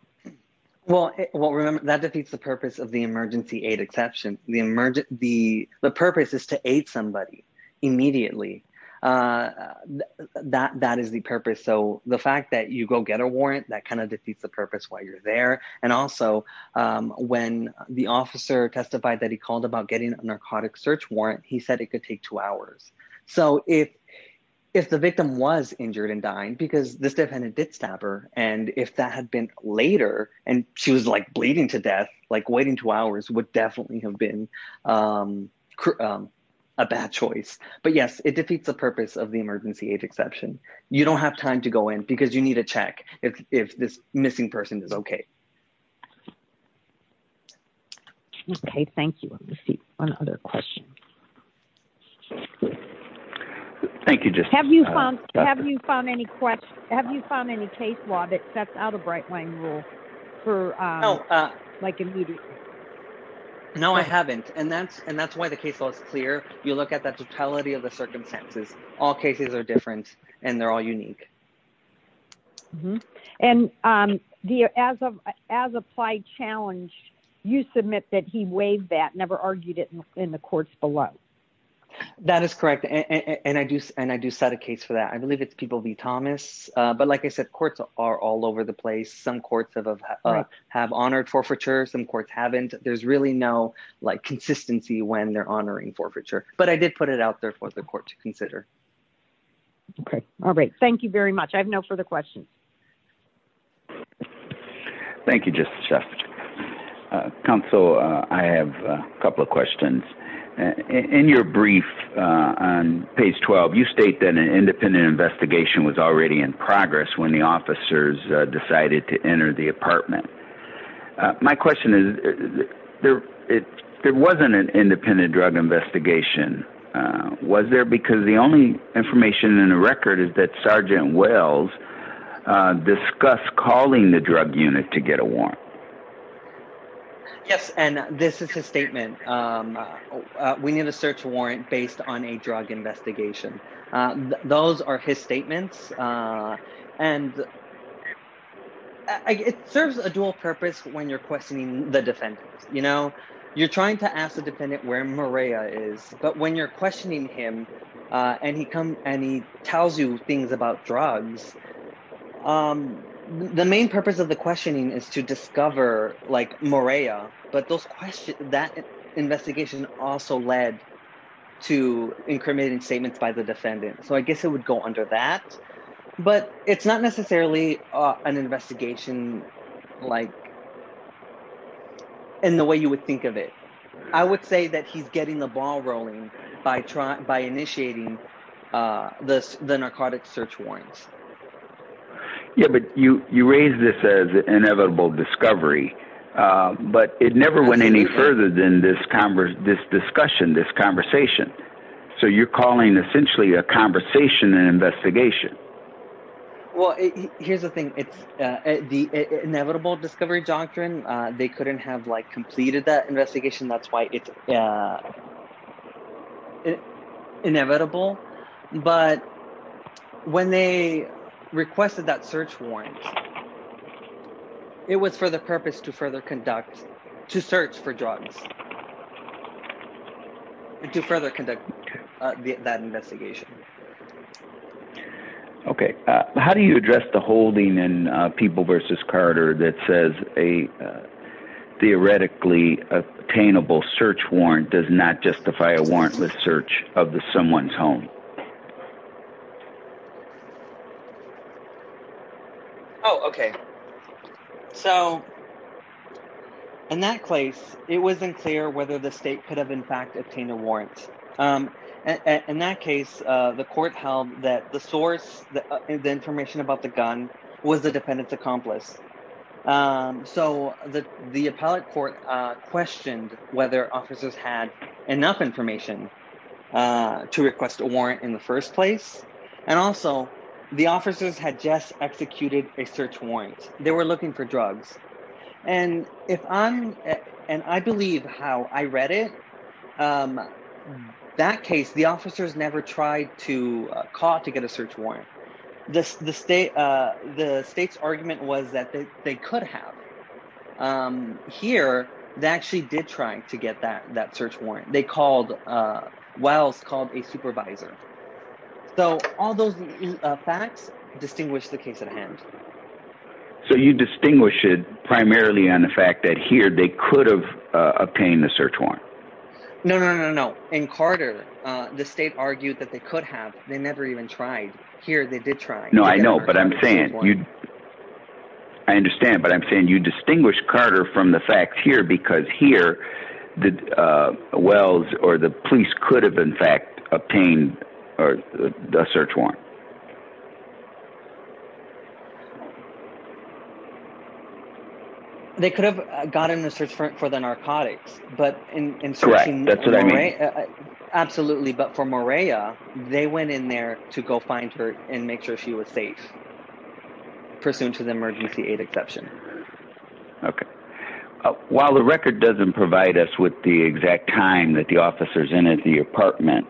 Well, remember, that defeats the purpose of the emergency aid exception. The purpose is to aid somebody immediately. That is the purpose. So the fact that you go get a warrant, that kind of defeats the purpose why you're there. And also, when the officer testified that he called about getting a narcotic search warrant, he said it could take two hours. So if the victim was injured and dying, because this defendant did stab her, and if that had been later and she was, like, bleeding to death, like, waiting two hours would definitely have been a bad choice. But yes, it defeats the purpose of the emergency aid exception. You don't have time to go in, because you need to check if this missing person is okay. Okay, thank you. I'm going to see one other question. Thank you. Have you found any case law that sets out a bright line rule for, like, immediately? No, I haven't. And that's why the case law is clear. You look at the totality of the circumstances. All cases are different, and they're all unique. And as applied challenge, you submit that he waived that, never argued it in the courts below. That is correct. And I do set a case for that. I believe it's people v. Thomas. But like I said, courts are all over the place. Some courts have honored forfeiture. Some courts haven't. There's really no, like, consistency when they're honoring forfeiture. But I did put it out there for the court to consider. Okay. All right. Thank you very much. I have no further questions. Thank you, Justice Shefferton. Counsel, I have a couple of questions. In your brief on page 12, you state that an independent investigation was already in progress when the officers decided to enter the apartment. My question is, there wasn't an independent drug investigation. Was there? Because the only information in the record is that Sergeant Wells discussed calling the drug unit to get a warrant. Yes, and this is his statement. We need a search warrant based on a drug investigation. Those are his statements. And it serves a dual purpose when you're questioning the defendant. You know, you're trying to ask the defendant where Maria is. But when you're questioning him and he tells you things about drugs, the main purpose of the questioning is to discover, like, Maria. But that investigation also led to incriminating statements by the defendant. So I guess it would go under that. But it's not necessarily an investigation like in the way you would think of it. I would say that he's getting the ball rolling by initiating the narcotics search warrants. Yeah, but you raise this as inevitable discovery, but it never went any further than this discussion, this conversation. So you're calling essentially a conversation and investigation. Well, here's the thing. It's the inevitable discovery doctrine. They couldn't have, like, completed that investigation. That's why it's inevitable. But when they requested that search warrant, it was for the purpose to further conduct to search for drugs. To further conduct that investigation. Okay. How do you address the holding in People v. Carter that says a theoretically attainable search warrant does not justify a warrantless search of someone's home? Oh, okay. So in that case, it wasn't clear whether the state could have, in fact, obtained a warrant. In that case, the court held that the source, the information about the gun, was the defendant's accomplice. So, the appellate court questioned whether officers had enough information to request a warrant in the first place. And also, the officers had just executed a search warrant. They were looking for drugs. And if I'm – and I believe how I read it, that case, the officers never tried to call to get a search warrant. The state's argument was that they could have. Here, they actually did try to get that search warrant. They called – Wells called a supervisor. So all those facts distinguish the case at hand. So you distinguish it primarily on the fact that here, they could have obtained a search warrant. No, no, no, no, no. In Carter, the state argued that they could have. They never even tried. Here, they did try. No, I know, but I'm saying – I understand, but I'm saying you distinguish Carter from the facts here because here, Wells or the police could have, in fact, obtained a search warrant. They could have gotten a search warrant for the narcotics, but in searching – Correct. That's what I mean. Absolutely, but for Maria, they went in there to go find her and make sure she was safe, pursuant to the emergency aid exception. Okay. While the record doesn't provide us with the exact time that the officers entered the apartment,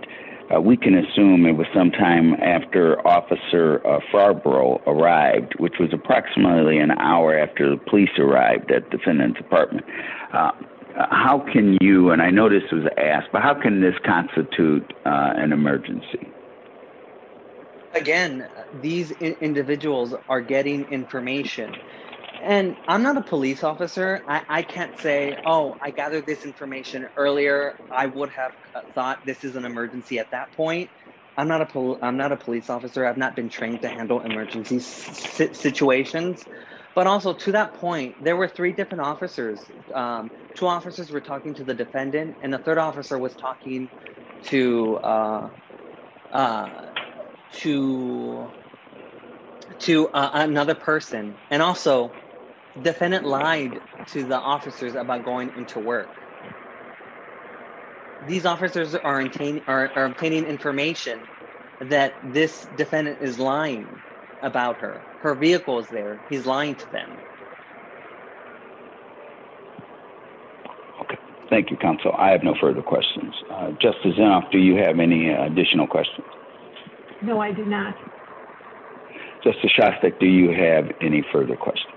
we can assume it was sometime after Officer Farborough arrived, which was approximately an hour after the police arrived at the defendant's apartment. How can you – and I know this was asked, but how can this constitute an emergency? Again, these individuals are getting information, and I'm not a police officer. I can't say, oh, I gathered this information earlier. I would have thought this is an emergency at that point. I'm not a police officer. I've not been trained to handle emergency situations, but also to that point, there were three different officers. Two officers were talking to the defendant, and the third officer was talking to another person. And also, the defendant lied to the officers about going into work. These officers are obtaining information that this defendant is lying about her. Her vehicle is there. He's lying to them. Okay. Thank you, Counsel. I have no further questions. Justice Inhofe, do you have any additional questions? No, I do not. Justice Shostak, do you have any further questions?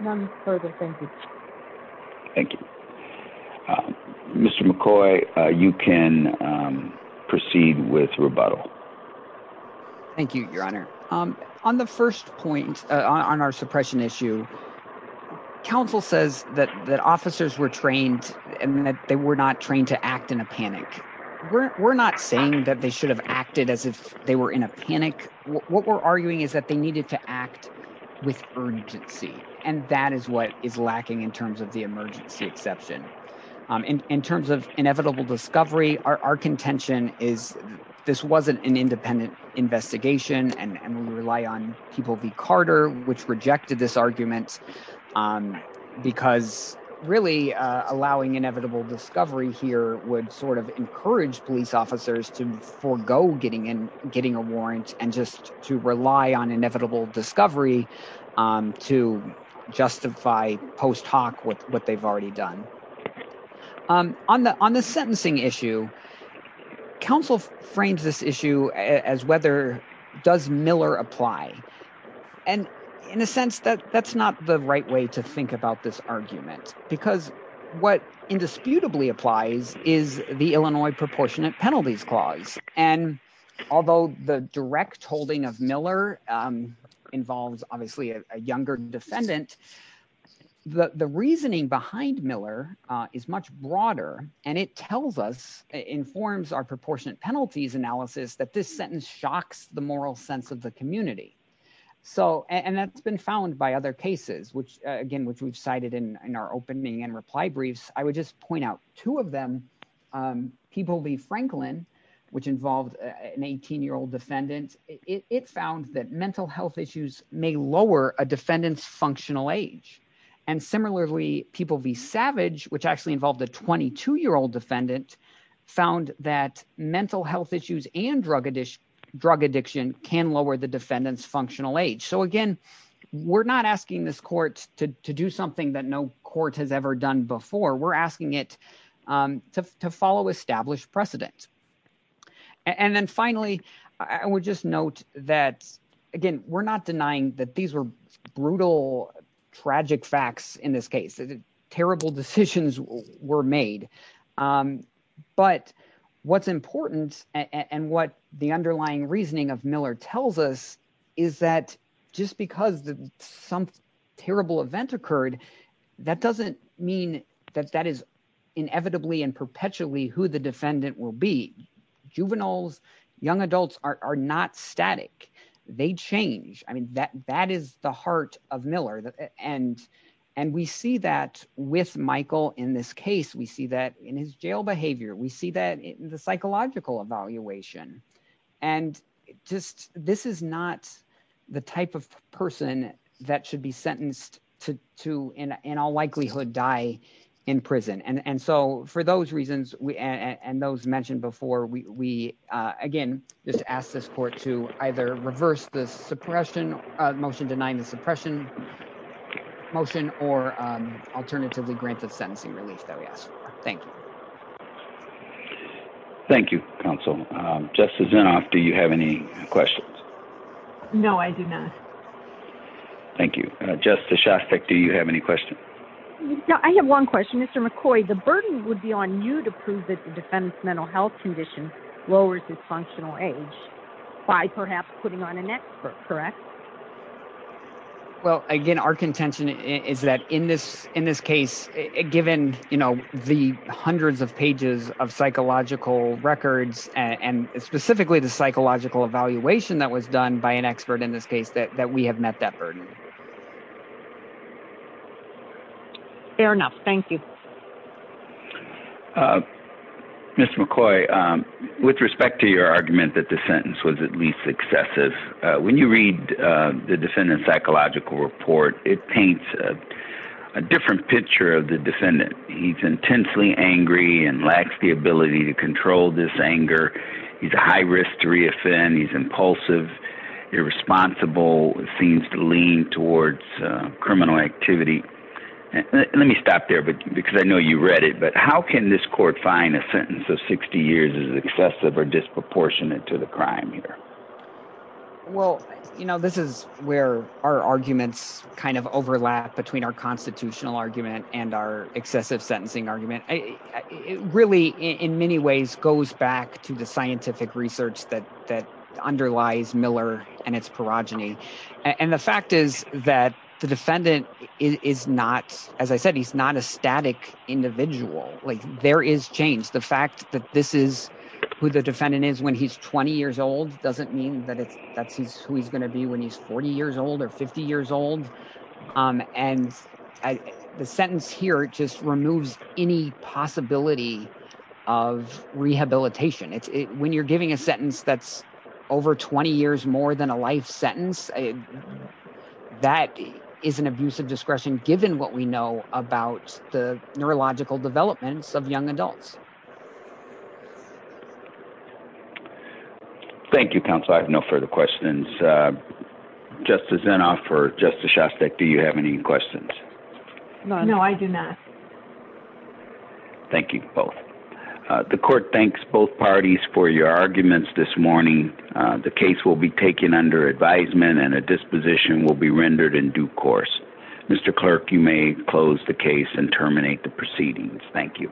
None further. Thank you. Thank you. Mr. McCoy, you can proceed with rebuttal. Thank you, Your Honor. On the first point, on our suppression issue, counsel says that officers were trained and that they were not trained to act in a panic. We're not saying that they should have acted as if they were in a panic. What we're arguing is that they needed to act with urgency, and that is what is lacking in terms of the emergency exception. In terms of inevitable discovery, our contention is this wasn't an independent investigation, and we rely on People v. Carter, which rejected this argument, because really allowing inevitable discovery here would sort of encourage police officers to forego getting a warrant and just to rely on inevitable discovery to justify post hoc what they've already done. On the sentencing issue, counsel frames this issue as whether, does Miller apply? And in a sense, that's not the right way to think about this argument, because what indisputably applies is the Illinois Proportionate Penalties Clause. And although the direct holding of Miller involves obviously a younger defendant, the reasoning behind Miller is much broader, and it tells us, informs our proportionate penalties analysis, that this sentence shocks the moral sense of the community. And that's been found by other cases, again, which we've cited in our opening and reply briefs. I would just point out two of them. People v. Franklin, which involved an 18-year-old defendant, it found that mental health issues may lower a defendant's functional age. And similarly, People v. Savage, which actually involved a 22-year-old defendant, found that mental health issues and drug addiction can lower the defendant's functional age. So again, we're not asking this court to do something that no court has ever done before. We're asking it to follow established precedent. And then finally, I would just note that, again, we're not denying that these were brutal, tragic facts in this case. Terrible decisions were made. But what's important and what the underlying reasoning of Miller tells us is that just because some terrible event occurred, that doesn't mean that that is inevitably and perpetually who the defendant will be. Juveniles, young adults are not static. They change. I mean, that is the heart of Miller. And we see that with Michael in this case. We see that in his jail behavior. We see that in the psychological evaluation. And just this is not the type of person that should be sentenced to, in all likelihood, die in prison. And so for those reasons, and those mentioned before, we, again, just ask this court to either reverse the suppression, motion denying the suppression motion, or alternatively grant the sentencing relief that we ask for. Thank you. Thank you, Counsel. Justice Inhofe, do you have any questions? No, I do not. Thank you. Justice Shostak, do you have any questions? No, I have one question. Mr. McCoy, the burden would be on you to prove that the defendant's mental health condition lowers his functional age by perhaps putting on an expert, correct? Well, again, our contention is that in this case, given the hundreds of pages of psychological records, and specifically the psychological evaluation that was done by an expert in this case, that we have met that burden. Fair enough. Thank you. Mr. McCoy, with respect to your argument that the sentence was at least excessive, when you read the defendant's psychological report, it paints a different picture of the defendant. He's intensely angry and lacks the ability to control this anger. He's a high risk to reoffend. He's impulsive, irresponsible, seems to lean towards criminal activity. Let me stop there because I know you read it, but how can this court find a sentence of 60 years as excessive or disproportionate to the crime here? Well, you know, this is where our arguments kind of overlap between our constitutional argument and our excessive sentencing argument. It really, in many ways, goes back to the scientific research that underlies Miller and its perogeny. And the fact is that the defendant is not, as I said, he's not a static individual. There is change. The fact that this is who the defendant is when he's 20 years old doesn't mean that that's who he's going to be when he's 40 years old or 50 years old. And the sentence here just removes any possibility of rehabilitation. When you're giving a sentence that's over 20 years more than a life sentence, that is an abuse of discretion, given what we know about the neurological developments of young adults. Thank you, counsel. I have no further questions. Justice Zinoff or Justice Shostak, do you have any questions? No, I do not. Thank you both. The court thanks both parties for your arguments this morning. The case will be taken under advisement and a disposition will be rendered in due course. Mr. Clerk, you may close the case and terminate the proceedings. Thank you.